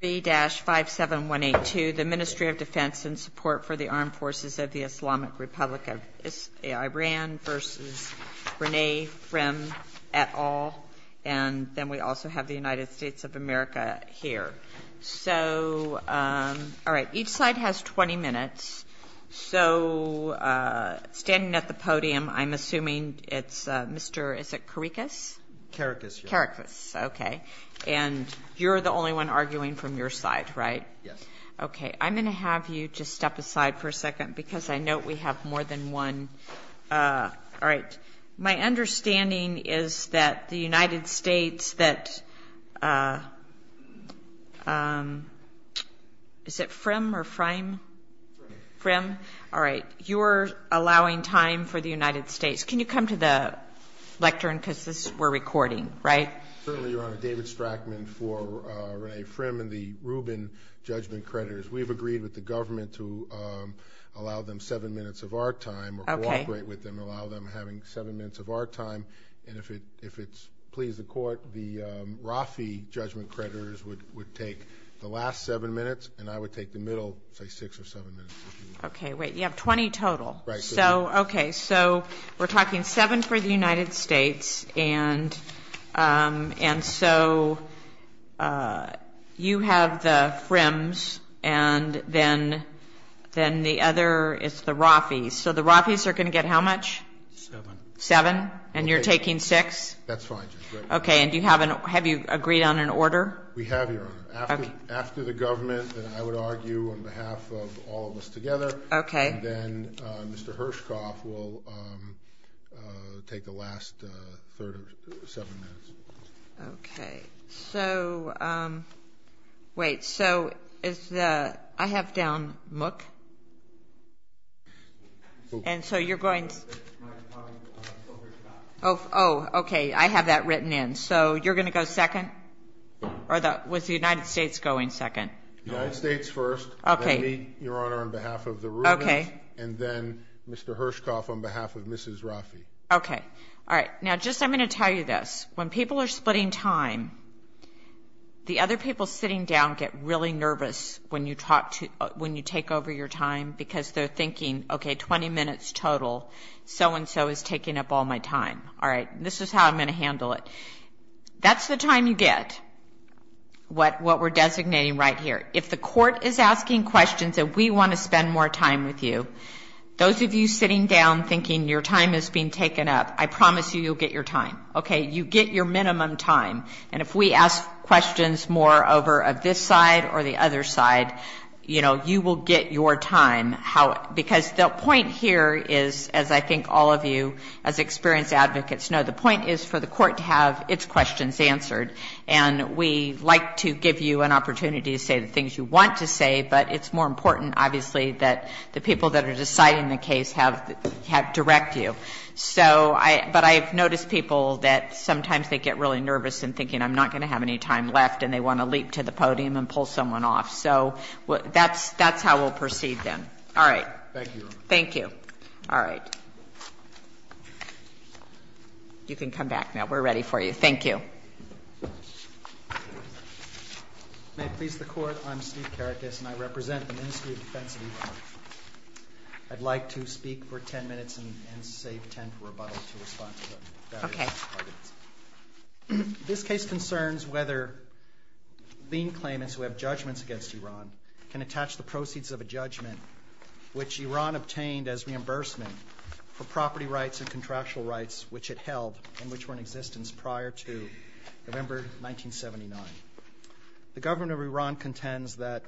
B-57182, the Ministry of Defense in Support for the Armed Forces of the Islamic Republic of Iran v. Renay Frym et al. And then we also have the United States of America here. So, all right, each side has 20 minutes. So standing at the podium, I'm assuming it's Mr., is it Karikas? Karikas. Karikas, okay. And you're the only one arguing from your side, right? Yes. Okay. I'm going to have you just step aside for a second because I know we have more than one. All right. My understanding is that the United States that, is it Frym or Frym? Frym. Frym. All right. You're allowing time for the United States. Can you come to the lectern because this, we're recording, right? Certainly, Your Honor. David Strachman for Renay Frym and the Rubin Judgment Creditors. We've agreed with the government to allow them seven minutes of our time or cooperate with them, allow them having seven minutes of our time. And if it's pleased the court, the Rafi Judgment Creditors would take the last seven minutes and I would take the middle, say, six or seven minutes. Okay. Wait, you have 20 total. Right. Okay. So we're talking seven for the United States and so you have the Fryms and then the other is the Rafis. So the Rafis are going to get how much? Seven. Seven? And you're taking six? That's fine, Judge. Okay. And do you have an, have you agreed on an order? We have, Your Honor. After the government and I would argue on behalf of all of us together. Okay. And then Mr. Hershkoff will take the last seven minutes. Okay. So, wait, so is the, I have down MOOC. And so you're going. Oh, okay. I have that written in. So you're going to go second? Or was the United States going second? United States first. Okay. Then me, Your Honor, on behalf of the Rubens. Okay. And then Mr. Hershkoff on behalf of Mrs. Rafi. Okay. All right. Now, just, I'm going to tell you this. When people are splitting time, the other people sitting down get really nervous when you talk to, when you take over your time because they're thinking, okay, 20 minutes total. So-and-so is taking up all my time. All right. This is how I'm going to handle it. That's the time you get. What, what we're designating right here. If the court is asking questions and we want to spend more time with you, those of you sitting down thinking your time is being taken up, I promise you you'll get your time. Okay. You get your minimum time. And if we ask questions more over this side or the other side, you know, you will get your time. How, because the point here is, as I think all of you as experienced advocates know, the point is for the court to have its questions answered. And we like to give you an opportunity to say the things you want to say, but it's more important, obviously, that the people that are deciding the case have, have direct view. So I, but I've noticed people that sometimes they get really nervous and thinking I'm not going to have any time left and they want to leap to the podium and pull someone off. So that's, that's how we'll proceed then. All right. Thank you. All right. You can come back now. We're ready for you. Thank you. May it please the court. I'm Steve Karakas and I represent the Ministry of Defense of Iran. I'd like to speak for 10 minutes and save 10 for rebuttal to respond to the various arguments. Okay. This case concerns whether lien claimants who have judgments against Iran can attach the proceeds of a judgment, which Iran obtained as reimbursement for property rights and November 1979. The government of Iran contends that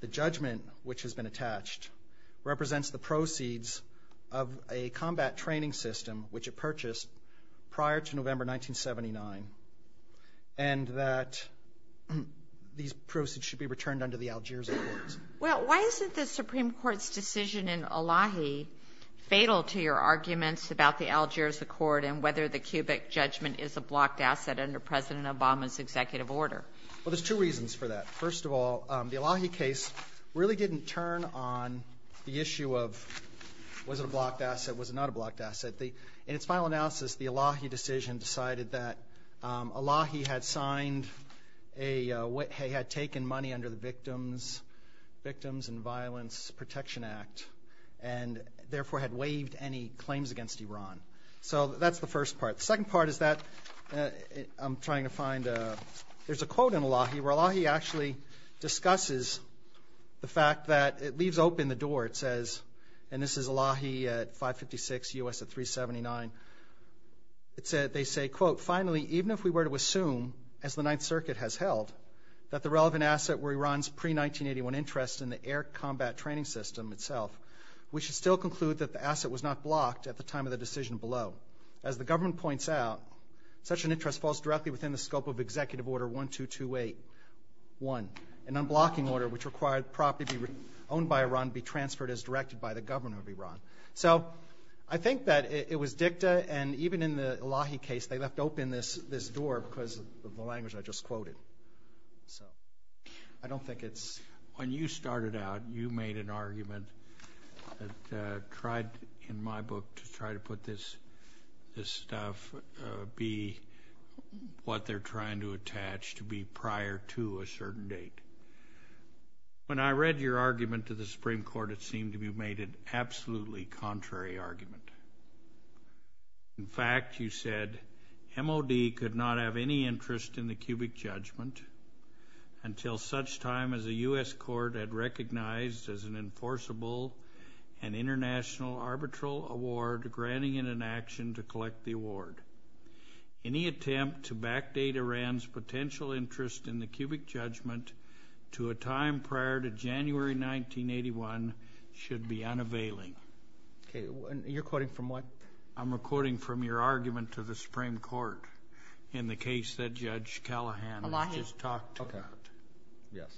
the judgment, which has been attached, represents the proceeds of a combat training system, which it purchased prior to November 1979, and that these proceeds should be returned under the Algiers Accords. Well, why isn't the Supreme Court's decision in Elahi fatal to your arguments about the Algiers Accord and whether the cubic judgment is a blocked asset under President Obama's executive order? Well, there's two reasons for that. First of all, the Elahi case really didn't turn on the issue of was it a blocked asset? Was it not a blocked asset? In its final analysis, the Elahi decision decided that Elahi had signed a, had taken money under the Victims, Victims and Violence Protection Act and therefore had waived any claims against Iran. So that's the first part. The second part is that I'm trying to find a, there's a quote in Elahi where Elahi actually discusses the fact that, it leaves open the door, it says, and this is Elahi at 556, U.S. at 379. It said, they say, quote, finally, even if we were to assume, as the Ninth Circuit has held, that the relevant asset were Iran's pre-1981 interest in the air combat training system itself, we should still conclude that the asset was not blocked at the time of the decision below. As the government points out, such an interest falls directly within the scope of Executive Order 12281, an unblocking order which required property owned by Iran be transferred as directed by the government of Iran. So I think that it was dicta and even in the Elahi case, they left open this, this door because of the language I just quoted. So, I don't think it's... When you started out, you made an argument that tried, in my book, to try to put this, this stuff be what they're trying to attach to be prior to a certain date. When I read your argument to the Supreme Court, it seemed to be made an absolutely contrary argument. In fact, you said, MOD could not have any interest in the cubic judgment until such time as a U.S. court had recognized as an enforceable and international arbitral award granting it an action to collect the award. Any attempt to backdate Iran's potential interest in the cubic judgment to a time prior to January 1981 should be unavailing. Okay, you're quoting from what? I'm recording from your argument to the Supreme Court in the case that Judge Callahan just talked about. Okay, yes.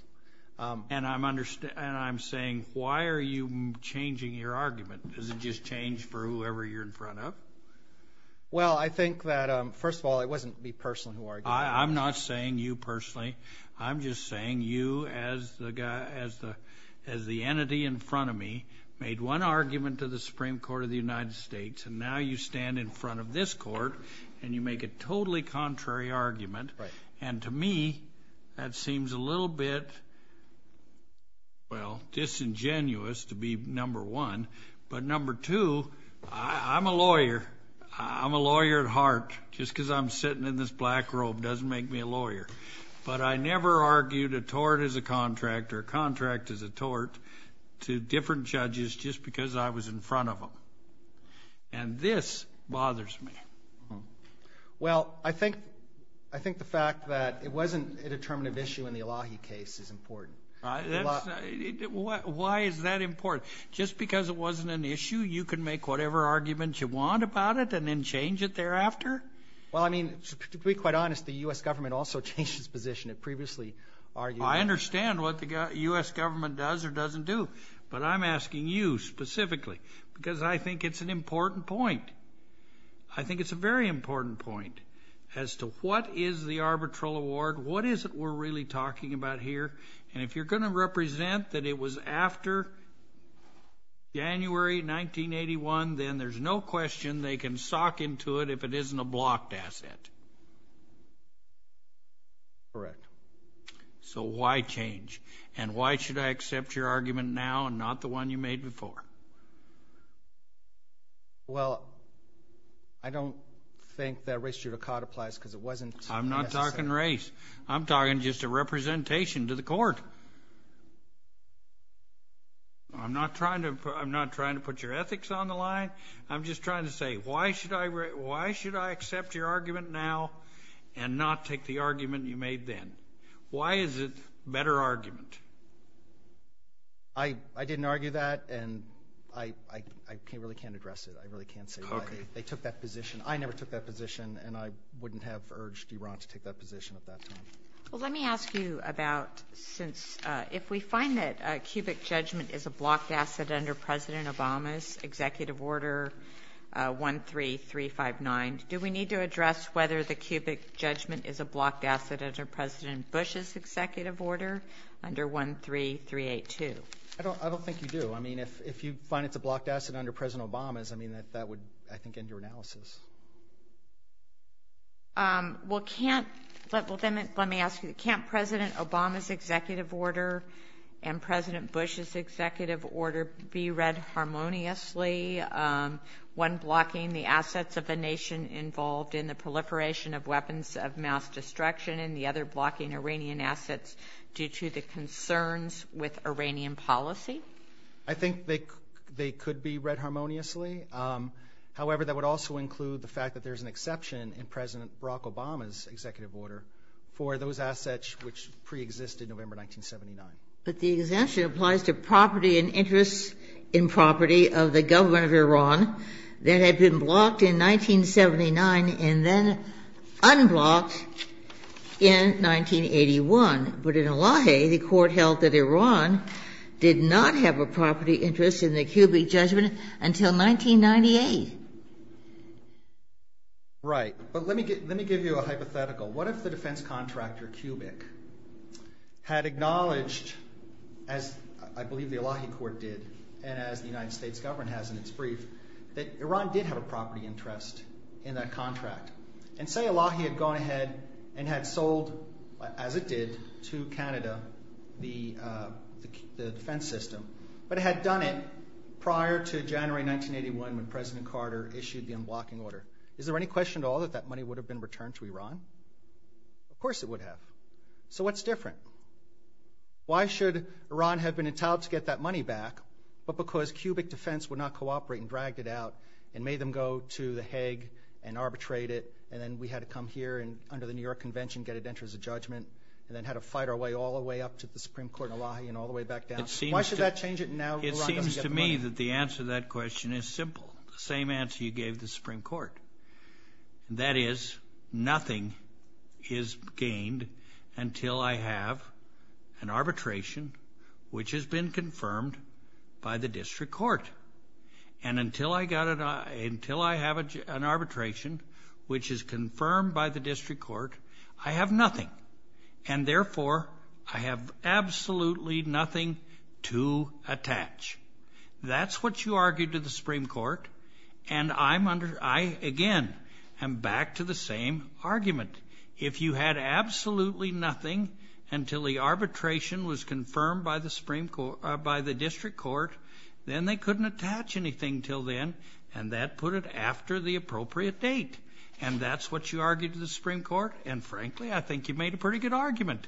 And I'm saying, why are you changing your argument? Does it just change for whoever you're in front of? Well, I think that, first of all, it wasn't me personally who argued it. I'm not saying you personally. I'm just saying you, as the entity in front of me, made one argument to the Supreme Court of the United States, and now you stand in front of this court, and you make a totally contrary argument. And to me, that seems a little bit, well, disingenuous to be number one. But number two, I'm a lawyer. I'm a black robe. It doesn't make me a lawyer. But I never argued a tort as a contract or a contract as a tort to different judges just because I was in front of them. And this bothers me. Well, I think the fact that it wasn't a determinative issue in the Elahi case is important. Why is that important? Just because it wasn't an issue, you can make whatever arguments you want about it and then change it thereafter? Well, I mean, to be quite honest, the U.S. government also changed its position. It previously argued... I understand what the U.S. government does or doesn't do. But I'm asking you specifically because I think it's an important point. I think it's a very important point as to what is the arbitral award, what is it we're really talking about here. And if you're going to represent that it was after January 1981, then there's no question they can sock into it if it isn't a blocked asset. Correct. So why change? And why should I accept your argument now and not the one you made before? Well, I don't think that race judicata applies because it wasn't... I'm not talking race. I'm talking just a representation to the court. I'm not trying to put your ethics on the line. I'm just trying to say, why should I accept your argument now and not take the argument you made then? Why is it a better argument? I didn't argue that and I really can't address it. I really can't say why they took that position. I never took that position and I wouldn't have urged Iran to take that position at that time. Well, let me ask you since if we find that a cubic judgment is a blocked asset under President Obama's executive order 13359, do we need to address whether the cubic judgment is a blocked asset under President Bush's executive order under 13382? I don't think you do. I mean, if you find it's a blocked asset under President Obama's, I mean, that would, I think, end your analysis. Well, let me ask you, can't President Obama's executive order and President Bush's executive order be read harmoniously when blocking the assets of a nation involved in the proliferation of weapons of mass destruction and the other blocking Iranian assets due to the concerns with Iranian policy? I think they could be read harmoniously. However, that would also include the fact that there's an exception in President Barack Obama's executive order for those assets which pre-existed November 1979. But the exemption applies to property and interests in property of the government of Iran that had been blocked in 1979 and then unblocked in 1981. But in Elahi, the court held that Iran did not have a property interest in the cubic judgment until 1998. Right, but let me give you a hypothetical. What if the defense contractor, Cubic, had acknowledged, as I believe the Elahi court did and as the United States government has in its brief, that Iran did have a property interest in that contract? And say Elahi had gone ahead and had sold, as it did, to Canada the defense system. But it had done it prior to January 1981 when President Carter issued the unblocking order. Is there any question at all that that money would have been returned to Iran? Of course it would have. So what's different? Why should Iran have been entitled to get that money back but because Cubic Defense would not cooperate and dragged it out and made them go to the Hague and arbitrate it and then we had to come here and under the New York Convention get it entered as a judgment and then had to fight our way all the way up to the Supreme Court in Elahi and all the way back down? Why should that change it and now Iran doesn't get the money? It seems to me that the answer to that question is simple. The same answer you gave the Supreme Court. That is, nothing is gained until I have an arbitration which has been confirmed by the And until I have an arbitration which is confirmed by the district court, I have nothing. And therefore, I have absolutely nothing to attach. That's what you argued to the Supreme Court. And I, again, am back to the same argument. If you had absolutely nothing until the arbitration was confirmed by the district court, then they couldn't attach anything until then. And that put it after the appropriate date. And that's what you argued to the Supreme Court. And frankly, I think you made a pretty good argument.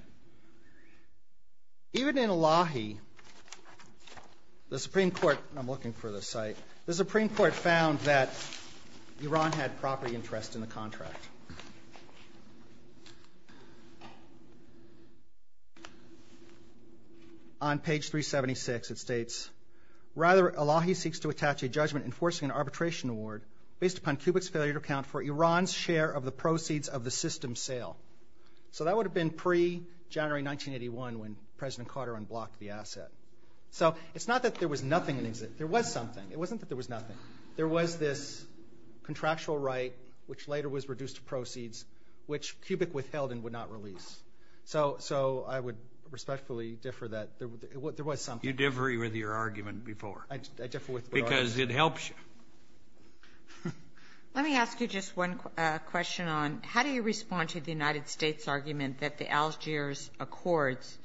Even in Elahi, the Supreme Court, and I'm looking for this site, the Supreme Court found that Iran had property interest in the contract. On page 376, it So that would have been pre-January 1981 when President Carter unblocked the asset. So it's not that there was nothing, there was something. It wasn't that there was nothing. There was this contractual right, which later was reduced to proceeds, which Cubic withheld and would not release. So I would respectfully differ that there was something. you differ with your argument before? Because it helps you. Let me ask you just one question on how do you respond to the United States' argument that the Algiers Accords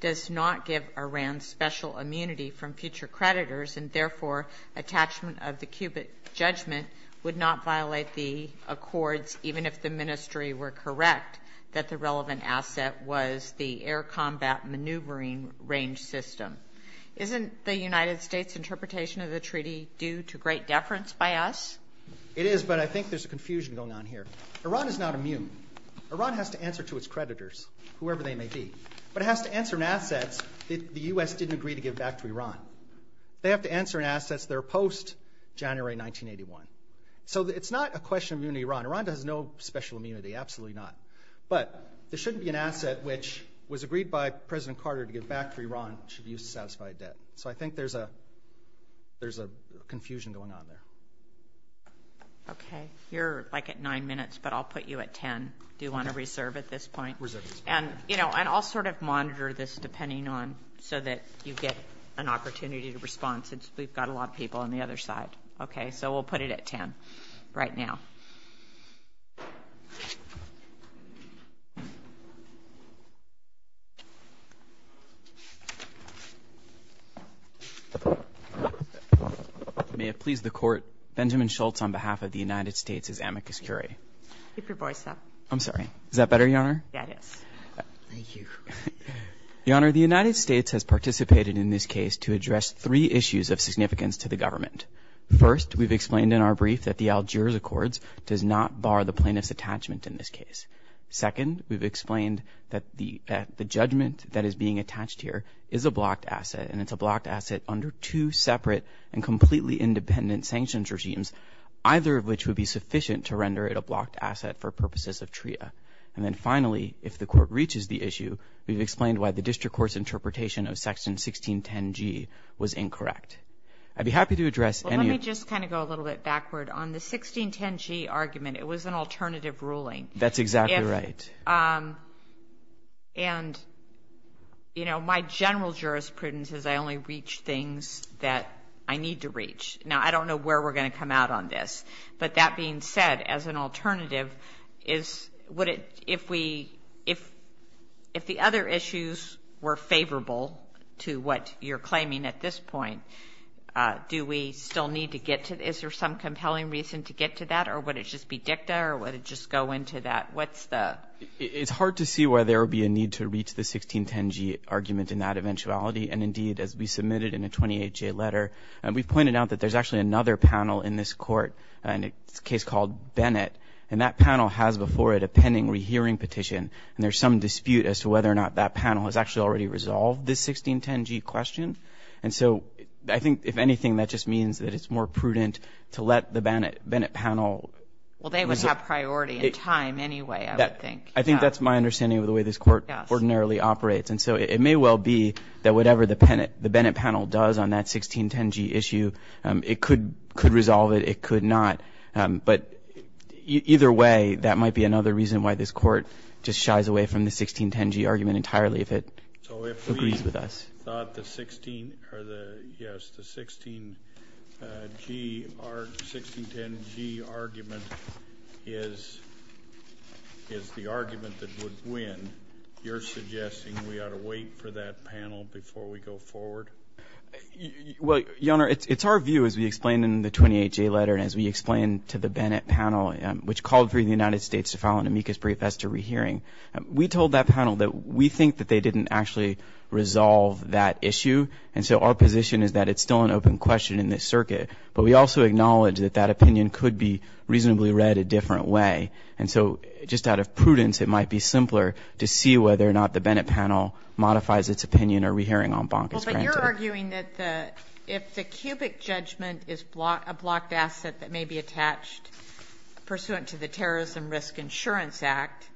does not give Iran special immunity from future creditors, and therefore, attachment of the Cubic judgment would not violate the Isn't the United States' interpretation of the treaty due to great deference by us? It is, but I think there's a confusion going on here. Iran is not immune. Iran has to answer to its creditors, whoever they may be. But it has to answer in assets that the U.S. didn't agree to give back to Iran. They have to answer in assets that are post-January 1981. So it's not a question of immunity to Iran. Iran has no special immunity, absolutely not. But there So I think there's a confusion going on there. Okay, you're like at nine minutes, but I'll put you at 10. Do you want to reserve at this point? Reserve at this point. And, you know, and I'll sort of monitor this depending on so that you get an opportunity to respond since we've got a lot of people on the other side. Okay, so we'll put it at 10 right now. May it please the court. Benjamin Schultz on behalf of the United States is amicus curiae. Keep your voice up. I'm sorry. Is that better, Your Honor? That is. Thank you. Your Honor, the United States has participated in this case to address three issues of significance to the government. First, we've explained in our brief that the Algiers Accords does not bar the plaintiff's attachment in this case. Second, we've explained that the judgment that is being attached here is a blocked asset, and it's a blocked asset under two separate and completely independent sanctions regimes, either of which would be sufficient to render it a blocked asset for purposes of TRIA. And then finally, if the court reaches the issue, we've explained why the district court's interpretation of Section 1610G was incorrect. I'd be happy to address any. Let me just kind of go a little bit backward. On the 1610G argument, it was an alternative ruling. That's exactly right. And, you know, my general jurisprudence is I only reach things that I need to reach. Now, I don't know where we're going to come out on this, but that being said, as an alternative, is would it, if we, if the other issues were favorable to what you're claiming at this point, do we still need to get to, is there some compelling reason to get to that, or would it just be dicta, or would it just go into that? What's the? It's hard to see why there would be a need to reach the 1610G argument in that eventuality. And indeed, as we submitted in a 28-J letter, we pointed out that there's actually another panel in this court, a case called Bennett, and that panel has before it a pending rehearing petition. And there's some dispute as to whether or not that panel has actually already resolved this 1610G question. And so I think, if anything, that just means that it's more prudent to let the Bennett panel. Well, they would have priority in time anyway, I would think. I think that's my understanding of the way this court ordinarily operates. And so it may well be that whatever the Bennett panel does on that 1610G issue, it could resolve it, it could not. But either way, that might be another reason why this court just shies away from the 1610G argument entirely, if it agrees with us. I thought the 16, or the, yes, the 1610G argument is the argument that would win. You're suggesting we ought to wait for that panel before we go forward? Well, Your Honor, it's our view, as we explained in the 28-J letter and as we explained to the Bennett panel, which called for the United States to file an amicus brief as to rehearing. We told that panel that we think that they didn't actually resolve that issue. And so our position is that it's still an open question in this circuit. But we also acknowledge that that opinion could be reasonably read a different way. And so just out of prudence, it might be simpler to see whether or not the Bennett panel modifies its opinion or rehearing en banc is granted. Well, but you're arguing that if the cubic judgment is a blocked asset that may be attached pursuant to the Terrorism Risk Insurance Act,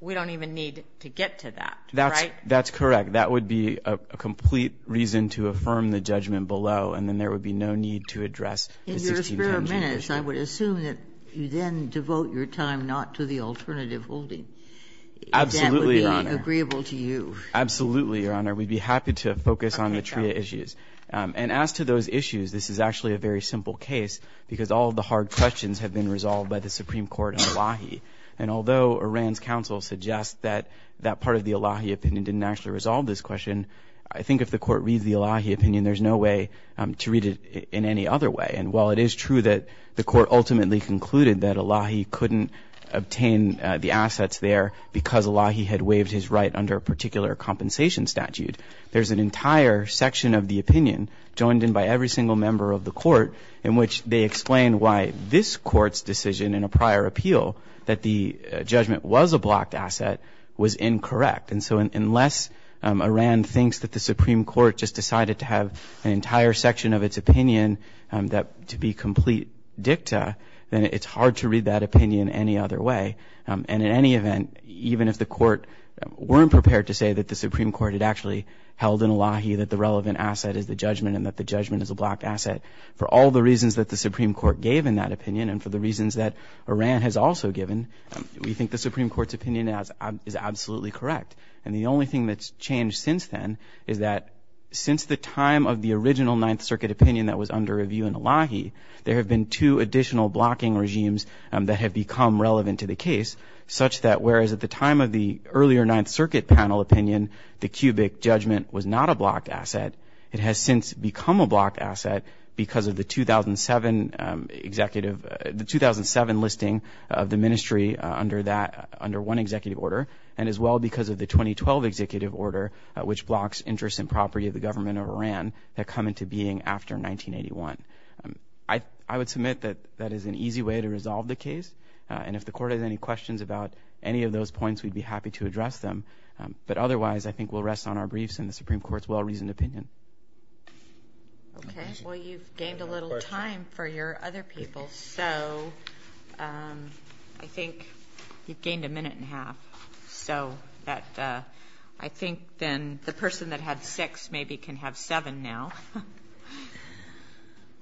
we don't even need to get to that, right? That's correct. That would be a complete reason to affirm the judgment below. And then there would be no need to address the 1610G issue. In your spare minutes, I would assume that you then devote your time not to the alternative holding. Absolutely, Your Honor. If that would be agreeable to you. Absolutely, Your Honor. We'd be happy to focus on the TRIA issues. And as to those issues, this is actually a very simple case, because all of the hard questions have been resolved by the Supreme Court on Wahi. And although Oran's counsel suggests that that part of the Wahi opinion didn't actually resolve this question, I think if the court reads the Wahi opinion, there's no way to read it in any other way. And while it is true that the court ultimately concluded that Wahi couldn't obtain the assets there because Wahi had waived his right under a particular compensation statute, there's an entire section of the opinion joined in by every single member of the court in which they explain why this court's decision in a prior appeal that the judgment was a blocked asset was incorrect. And so unless Oran thinks that the Supreme Court just decided to have an entire section of its opinion to be complete dicta, then it's hard to read that opinion any other way. And in any event, even if the court weren't prepared to say that the Supreme Court had actually held in Wahi that the relevant asset is the judgment and that the judgment is a blocked asset, for all the reasons that the Supreme Court gave in that opinion and for the reasons that Oran has also given, we think the Supreme Court's opinion is absolutely correct. And the only thing that's changed since then is that since the time of the original Ninth Circuit opinion that was under review in Wahi, there have been two additional blocking regimes that have become relevant to the case, such that whereas at the time of the earlier Ninth Circuit panel opinion, the cubic judgment was not a blocked asset, it has since become a blocked asset because of the 2007 executive, the 2007 listing of the ministry under that, under one executive order, and as well because of the 2012 executive order, which blocks interest and property of the government of Oran that come into being after 1981. I would submit that that is an easy way to resolve the case, and if the court has any questions about any of those points, we'd be happy to address them. But otherwise, I think we'll rest on our briefs and the Supreme Court's well-reasoned opinion. Okay, well, you've gained a little time for your other people, so I think you've gained a minute and a half, so that I think then the person that had six maybe can have seven now.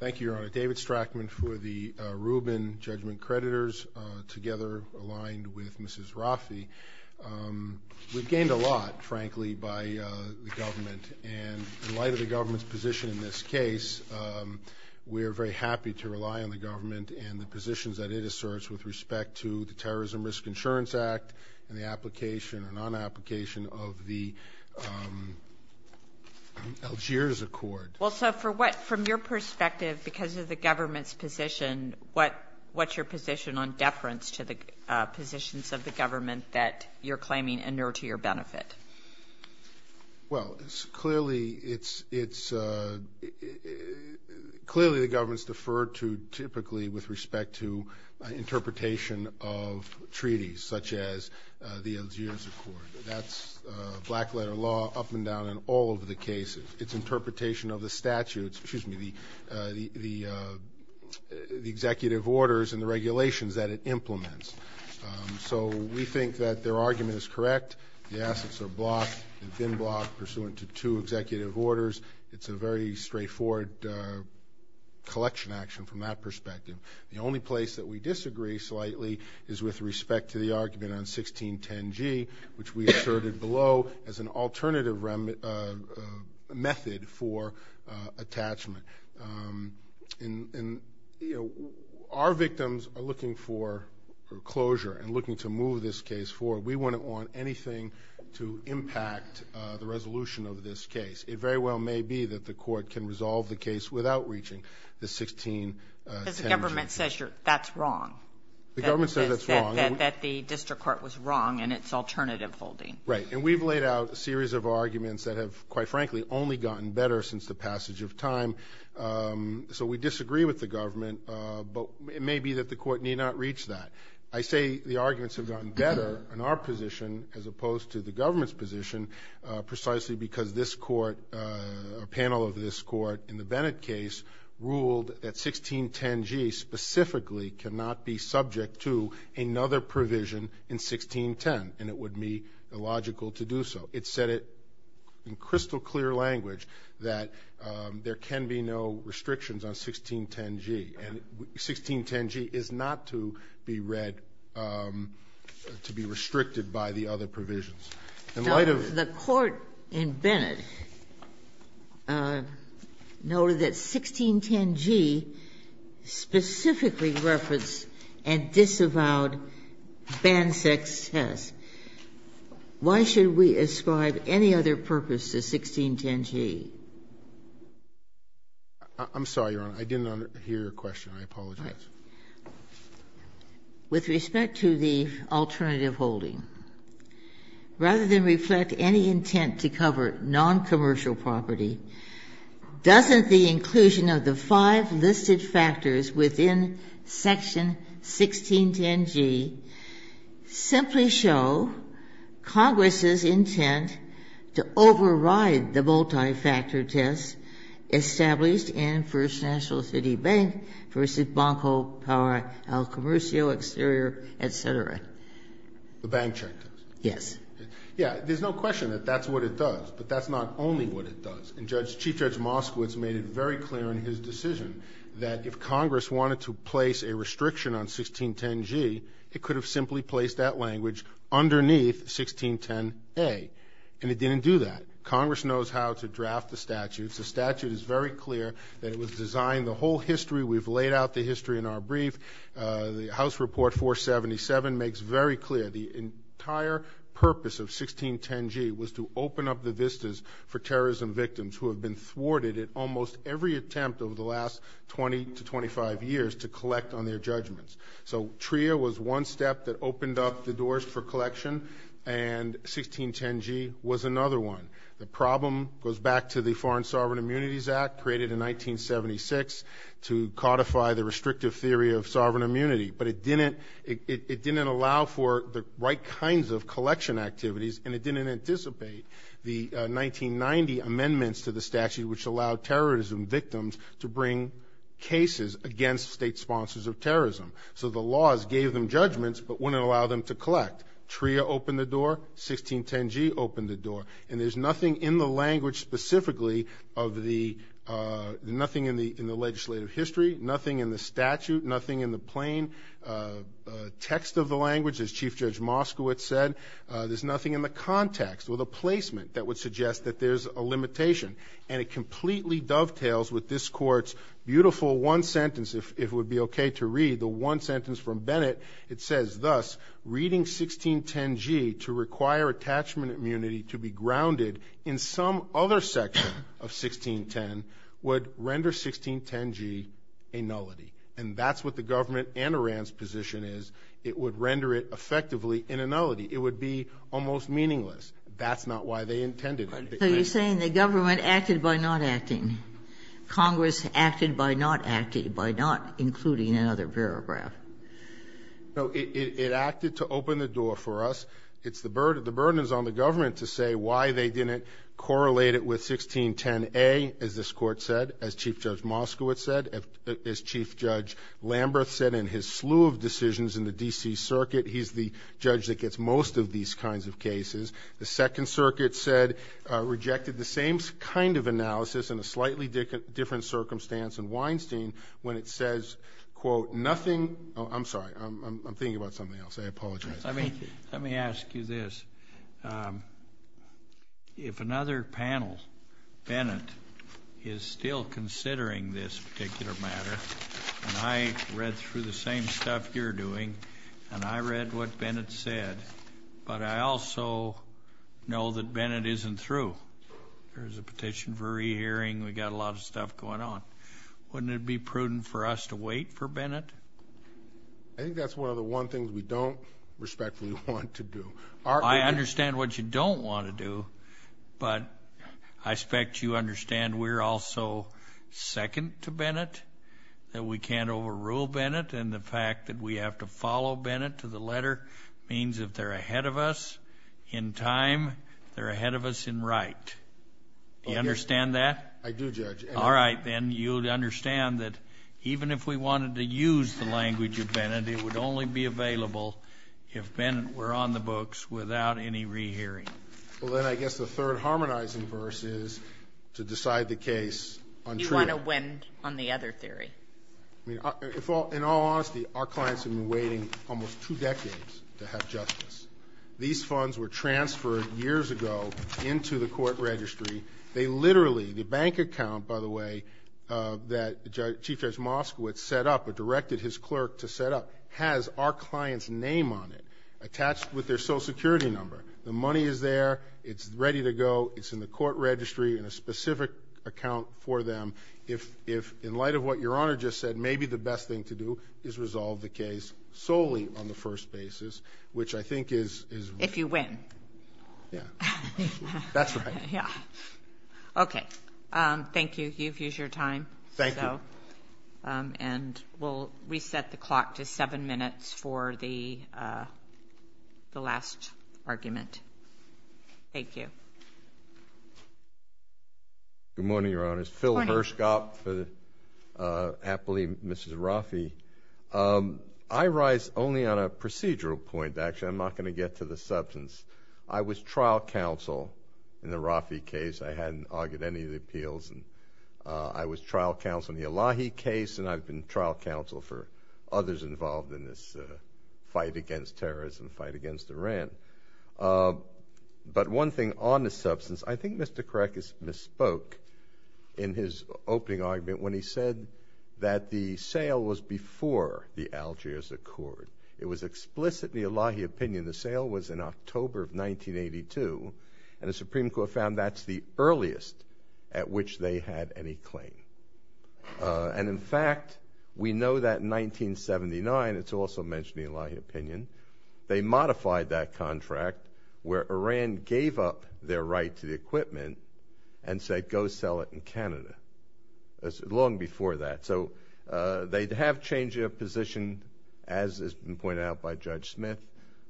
Thank you, Your Honor. David Strachman for the Rubin Judgment Creditors, together aligned with Mrs. Raffi. We've gained a lot, frankly, by the government, and in light of the government's position in this case, we are very happy to rely on the government and the positions that it asserts with respect to the Terrorism Risk Insurance Act and the application or non-application of the Algiers Accord. Well, so from your perspective, because of the government's position, what's your position on deference to the positions of the government that you're claiming inure to your benefit? Well, clearly the government's deferred to typically with respect to interpretation of treaties, such as the Algiers Accord. That's black-letter law up and down in all of the cases. It's interpretation of the statutes, excuse me, the executive orders and the regulations that it implements. So we think that their argument is correct. The assets are blocked, have been blocked pursuant to two executive orders. It's a very straightforward collection action from that perspective. The only place that we disagree slightly is with respect to the argument on 1610G, which we asserted below as an alternative method for attachment. And our victims are looking for closure and looking to move this case forward. We wouldn't want anything to impact the resolution of this case. It very well may be that the court can resolve the case without reaching the 1610G. Because the government says that's wrong. The government says that's wrong. That the district court was wrong in its alternative holding. Right. And we've laid out a series of arguments that have, quite frankly, only gotten better since the passage of time. So we disagree with the government. But it may be that the court need not reach that. I say the arguments have gotten better in our position as opposed to the government's position precisely because this court, a panel of this court in the Bennett case ruled that 1610G specifically cannot be subject to another provision in 1610. And it would be illogical to do so. It said it in crystal clear language that there can be no restrictions on 1610G. And 1610G is not to be read, to be restricted by the other provisions. In light of the court in Bennett noted that 1610G specifically referenced a disavowed or banned sex test. Why should we ascribe any other purpose to 1610G? I'm sorry, Your Honor. I didn't hear your question. I apologize. With respect to the alternative holding, rather than reflect any intent to cover noncommercial property, doesn't the inclusion of the five listed factors within Section 1610G simply show Congress's intent to override the multi-factor test established in First National City Bank versus Banco Power El Comercio, exterior, et cetera? The bank check test. Yes. Yes. There's no question that that's what it does, but that's not only what it does. And Chief Judge Moskowitz made it very clear in his decision that if Congress wanted to place a restriction on 1610G, it could have simply placed that language underneath 1610A, and it didn't do that. Congress knows how to draft the statutes. The statute is very clear that it was designed the whole history. We've laid out the history in our brief. The House Report 477 makes very clear the entire purpose of 1610G was to open up the at almost every attempt over the last 20 to 25 years to collect on their judgments. So TRIA was one step that opened up the doors for collection, and 1610G was another one. The problem goes back to the Foreign Sovereign Immunities Act, created in 1976, to codify the restrictive theory of sovereign immunity. But it didn't allow for the right kinds of collection activities, and it didn't anticipate the 1990 amendments to the statute, which allowed terrorism victims to bring cases against state sponsors of terrorism. So the laws gave them judgments but wouldn't allow them to collect. TRIA opened the door. 1610G opened the door. And there's nothing in the language specifically of the – nothing in the legislative history, nothing in the statute, nothing in the plain text of the language, as Chief Judge Moskowitz said. There's nothing in the context or the placement that would suggest that there's a limitation. And it completely dovetails with this Court's beautiful one sentence, if it would be okay to read, the one sentence from Bennett. It says, Thus, reading 1610G to require attachment immunity to be grounded in some other section of 1610 would render 1610G a nullity. And that's what the government and Iran's position is. It would render it effectively a nullity. It would be almost meaningless. That's not why they intended it. So you're saying the government acted by not acting. Congress acted by not acting, by not including another paragraph. No. It acted to open the door for us. It's the burden. The burden is on the government to say why they didn't correlate it with 1610A, as this Court said, as Chief Judge Moskowitz said, as Chief Judge Lamberth said in his slew of decisions in the D.C. Circuit. He's the judge that gets most of these kinds of cases. The Second Circuit said, rejected the same kind of analysis in a slightly different circumstance in Weinstein when it says, quote, nothing — oh, I'm sorry. I'm thinking about something else. I apologize. Let me ask you this. If another panel, Bennett, is still considering this particular matter, and I read through the same stuff you're doing, and I read what Bennett said, but I also know that Bennett isn't through. There's a petition for rehearing. We've got a lot of stuff going on. Wouldn't it be prudent for us to wait for Bennett? I think that's one of the one things we don't respectfully want to do. I understand what you don't want to do, but I expect you understand we're also second to Bennett, that we can't overrule Bennett, and the fact that we have to follow Bennett to the letter means if they're ahead of us in time, they're ahead of us in right. Do you understand that? I do, Judge. All right. Then you'd understand that even if we wanted to use the language of Bennett, it would only be available if Bennett were on the books without any rehearing. Well, then I guess the third harmonizing verse is to decide the case on trial. How do you want to win on the other theory? I mean, in all honesty, our clients have been waiting almost two decades to have justice. These funds were transferred years ago into the court registry. They literally, the bank account, by the way, that Chief Judge Moskowitz set up or directed his clerk to set up has our client's name on it attached with their Social Security number. The money is there. It's ready to go. It's in the court registry in a specific account for them. If in light of what Your Honor just said, maybe the best thing to do is resolve the case solely on the first basis, which I think is... If you win. Yeah. That's right. Yeah. Okay. Thank you. You've used your time. Thank you. And we'll reset the clock to seven minutes for the last argument. Thank you. Good morning, Your Honors. Good morning. Phil Hirschkopf, aptly Mrs. Rafi. I rise only on a procedural point, actually. I'm not going to get to the substance. I was trial counsel in the Rafi case. I hadn't argued any of the appeals. I was trial counsel in the Elahi case, and I've been trial counsel for others involved in this fight against terrorism, fight against Iran. But one thing on the substance, I think Mr. Krakus misspoke in his opening argument when he said that the sale was before the Algiers Accord. It was explicitly Elahi opinion. The sale was in October of 1982, and the Supreme Court found that's the earliest at which they had any claim. And, in fact, we know that in 1979, it's also mentioned in Elahi opinion, they modified that contract where Iran gave up their right to the equipment and said, go sell it in Canada. That's long before that. So they have changed their position, as has been pointed out by Judge Smith,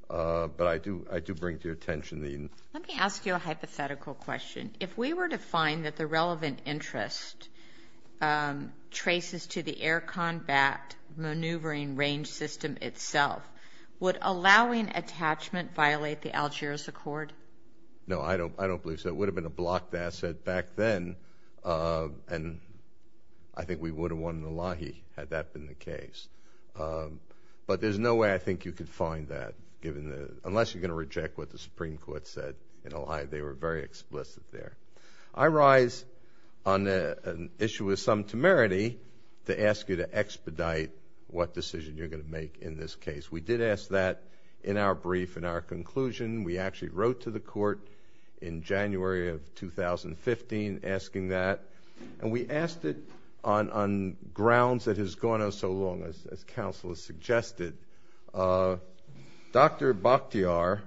but I do bring to your attention the... Let me ask you a hypothetical question. If we were to find that the relevant interest traces to the air combat maneuvering range system itself, would allowing attachment violate the Algiers Accord? No, I don't believe so. It would have been a blocked asset back then, and I think we would have won in Elahi had that been the case. But there's no way I think you could find that, unless you're going to reject what the I rise on an issue of some temerity to ask you to expedite what decision you're going to make in this case. We did ask that in our brief, in our conclusion. We actually wrote to the court in January of 2015 asking that, and we asked it on grounds that has gone on so long, as counsel has suggested. Dr. Bakhtiar,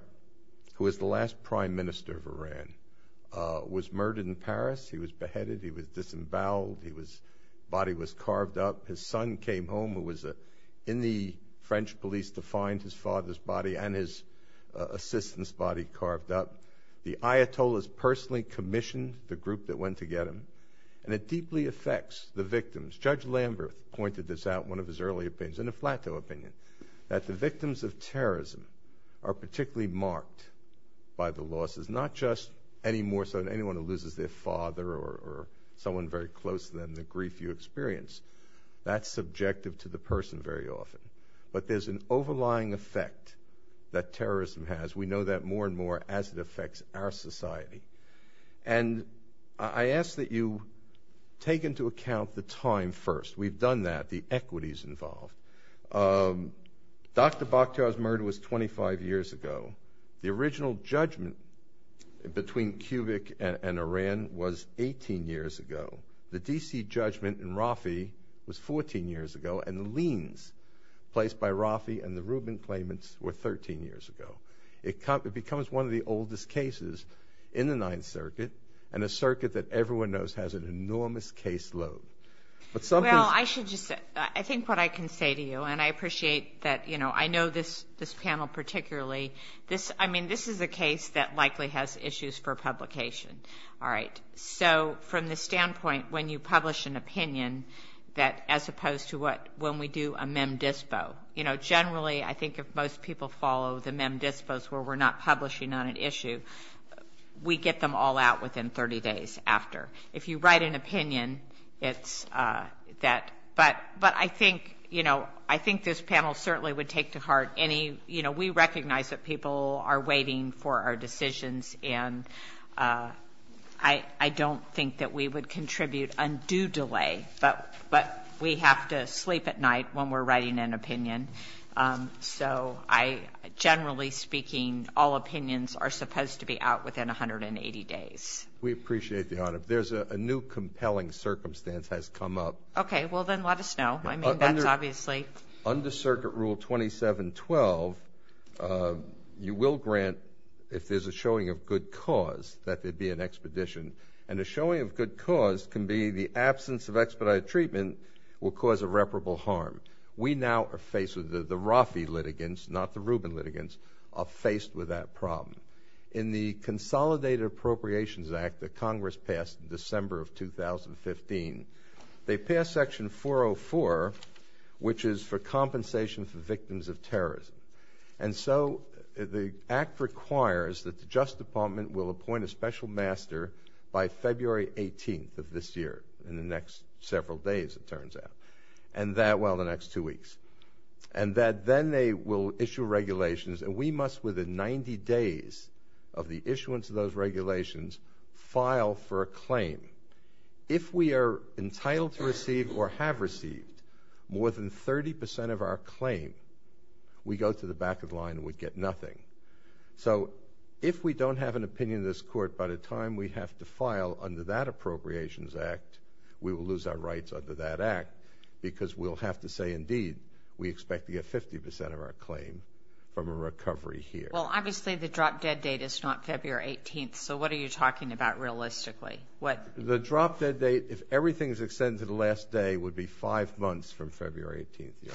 who was the last prime minister of Iran, was murdered in Paris. He was beheaded. He was disemboweled. His body was carved up. His son came home, who was in the French police to find his father's body and his assistant's body carved up. The Ayatollahs personally commissioned the group that went to get him, and it deeply affects the victims. Judge Lamberth pointed this out in one of his early opinions, in a plateau opinion, that the victims of terrorism are particularly marked by the losses, not just any more so than anyone who loses their father or someone very close to them, the grief you experience. That's subjective to the person very often. But there's an overlying effect that terrorism has. And I ask that you take into account the time first. We've done that, the equities involved. Dr. Bakhtiar's murder was 25 years ago. The original judgment between Kubrick and Iran was 18 years ago. The D.C. judgment in Rafi was 14 years ago, and the liens placed by Rafi and the Rubin claimants were 13 years ago. It becomes one of the oldest cases in the Ninth Circuit, and a circuit that everyone knows has an enormous caseload. Well, I should just say, I think what I can say to you, and I appreciate that, you know, I know this panel particularly. I mean, this is a case that likely has issues for publication. All right. So, from the standpoint, when you publish an opinion, as opposed to when we do a mem dispos, where we're not publishing on an issue, we get them all out within 30 days after. If you write an opinion, it's that. But I think, you know, I think this panel certainly would take to heart any, you know, we recognize that people are waiting for our decisions, and I don't think that we would contribute undue delay. So, I, generally speaking, all opinions are supposed to be out within 180 days. We appreciate the honor. If there's a new compelling circumstance has come up. Okay. Well, then let us know. I mean, that's obviously. Under Circuit Rule 2712, you will grant, if there's a showing of good cause, that there be an expedition. And a showing of good cause can be the absence of expedited treatment will cause irreparable harm. We now are faced with the Rafi litigants, not the Rubin litigants, are faced with that problem. In the Consolidated Appropriations Act that Congress passed in December of 2015, they passed Section 404, which is for compensation for victims of terrorism. And so, the act requires that the Justice Department will appoint a special master by February 18th of this year, in the next several days, it turns out. And that, well, the next two weeks. And that then they will issue regulations and we must, within 90 days of the issuance of those regulations, file for a claim. If we are entitled to receive or have received more than 30% of our claim, we go to the back of the line and we get nothing. So, if we don't have an opinion in this court by the time we have to file under that act, because we'll have to say, indeed, we expect to get 50% of our claim from a recovery here. Well, obviously, the drop-dead date is not February 18th. So, what are you talking about, realistically? The drop-dead date, if everything is extended to the last day, would be five months from February 18th, Your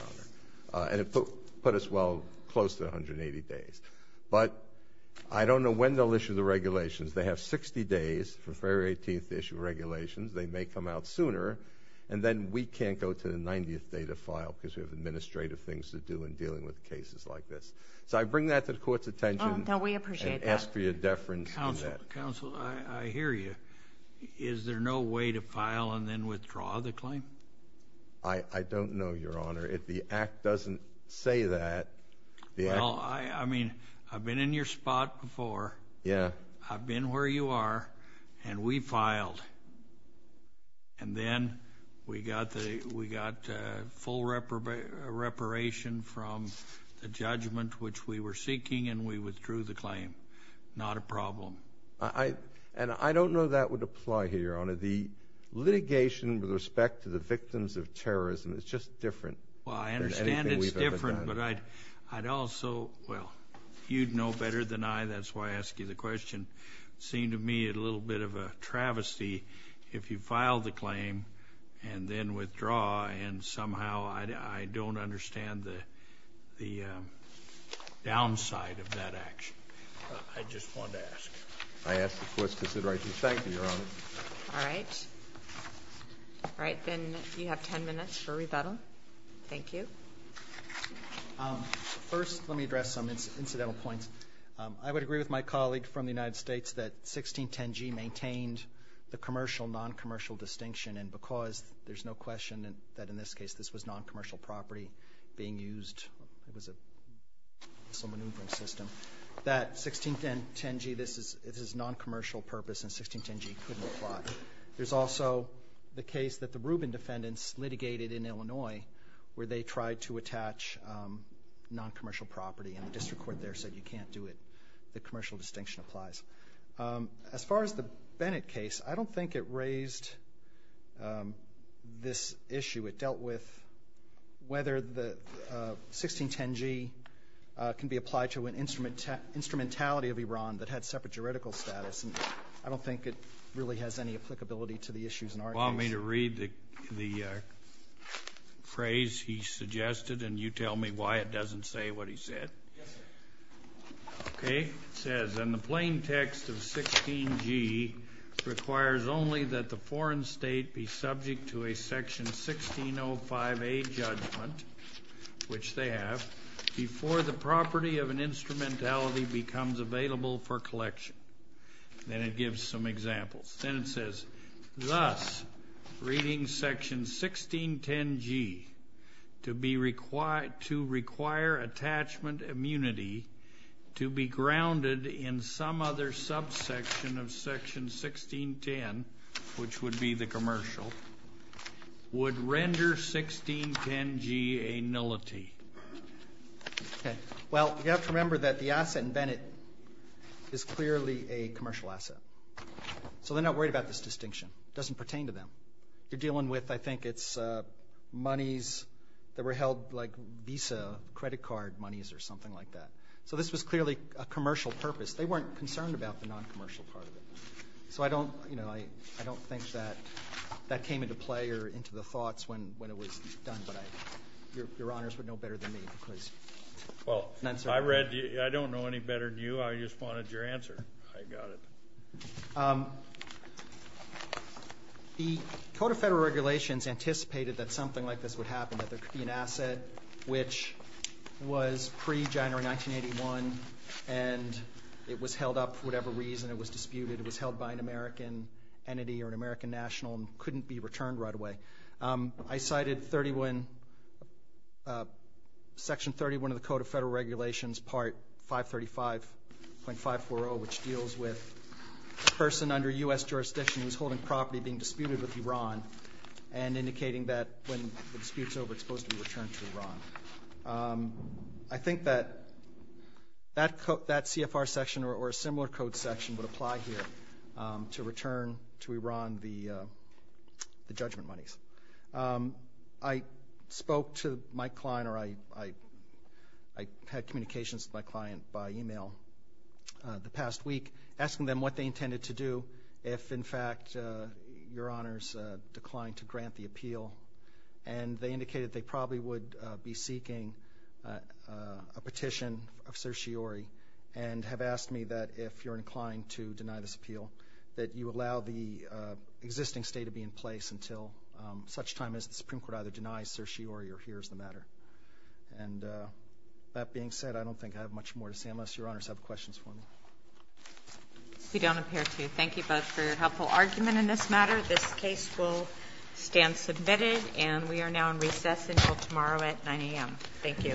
Honor. And it put us, well, close to 180 days. But I don't know when they'll issue the regulations. They have 60 days for February 18th to issue regulations. They may come out sooner. And then we can't go to the 90th day to file because we have administrative things to do in dealing with cases like this. So, I bring that to the Court's attention and ask for your deference on that. Counsel, I hear you. Is there no way to file and then withdraw the claim? I don't know, Your Honor. The act doesn't say that. Well, I mean, I've been in your spot before. Yeah. I've been where you are, and we filed. And then we got full reparation from the judgment, which we were seeking, and we withdrew the claim. Not a problem. And I don't know that would apply here, Your Honor. The litigation with respect to the victims of terrorism is just different than anything we've ever done. Well, I understand it's different, but I'd also, well, you'd know better than I. That's why I ask you the question. It seemed to me a little bit of a travesty if you file the claim and then withdraw, and somehow I don't understand the downside of that action. I just wanted to ask. I ask the Court's consideration. Thank you, Your Honor. All right. All right. Then you have 10 minutes for rebuttal. Thank you. First, let me address some incidental points. I would agree with my colleague from the United States that 1610G maintained the commercial-noncommercial distinction, and because there's no question that in this case this was noncommercial property being used, it was a missile maneuvering system, that 1610G, this is noncommercial purpose, and 1610G couldn't apply. There's also the case that the Rubin defendants litigated in Illinois where they tried to attach noncommercial property, and the district court there said you can't do it. The commercial distinction applies. As far as the Bennett case, I don't think it raised this issue. It dealt with whether the 1610G can be applied to an instrumentality of Iran that had separate juridical status, and I don't think it really has any applicability to the issues in our case. I'm going to read the phrase he suggested, and you tell me why it doesn't say what he said. Yes, sir. Okay. It says, and the plain text of 16G requires only that the foreign state be subject to a section 1605A judgment, which they have, before the property of an instrumentality becomes available for collection. Then it gives some examples. Then it says, thus, reading section 1610G to require attachment immunity to be grounded in some other subsection of section 1610, which would be the commercial, would render 1610G a nullity. Okay. Well, you have to remember that the asset in Bennett is clearly a commercial asset. So they're not worried about this distinction. It doesn't pertain to them. You're dealing with, I think it's monies that were held like Visa credit card monies or something like that. So this was clearly a commercial purpose. They weren't concerned about the non-commercial part of it. So I don't, you know, I don't think that that came into play or into the thoughts when it was done, but your honors would know better than me. Well, I don't know any better than you. I just wanted your answer. I got it. The Code of Federal Regulations anticipated that something like this would happen, that there could be an asset which was pre-January 1981, and it was held up for whatever reason. It was disputed. It was held by an American entity or an American national and couldn't be returned right away. I cited Section 31 of the Code of Federal Regulations, Part 535.540, which deals with a person under U.S. jurisdiction who's holding property being disputed with Iran and indicating that when the dispute's over, it's supposed to be returned to Iran. I think that that CFR section or a similar code section would apply here to return to Iran the judgment monies. I spoke to my client, or I had communications with my client by e-mail the past week, asking them what they intended to do if, in fact, your honors declined to grant the appeal. And they indicated they probably would be seeking a petition of certiorari and have asked me that if you're inclined to deny this appeal, that you allow the existing state to be in place until such time as the Supreme Court either denies certiorari or hears the matter. And that being said, I don't think I have much more to say unless your honors have questions for me. You don't appear to. Thank you both for your helpful argument in this matter. This case will stand submitted, and we are now in recess until tomorrow at 9 a.m. Thank you.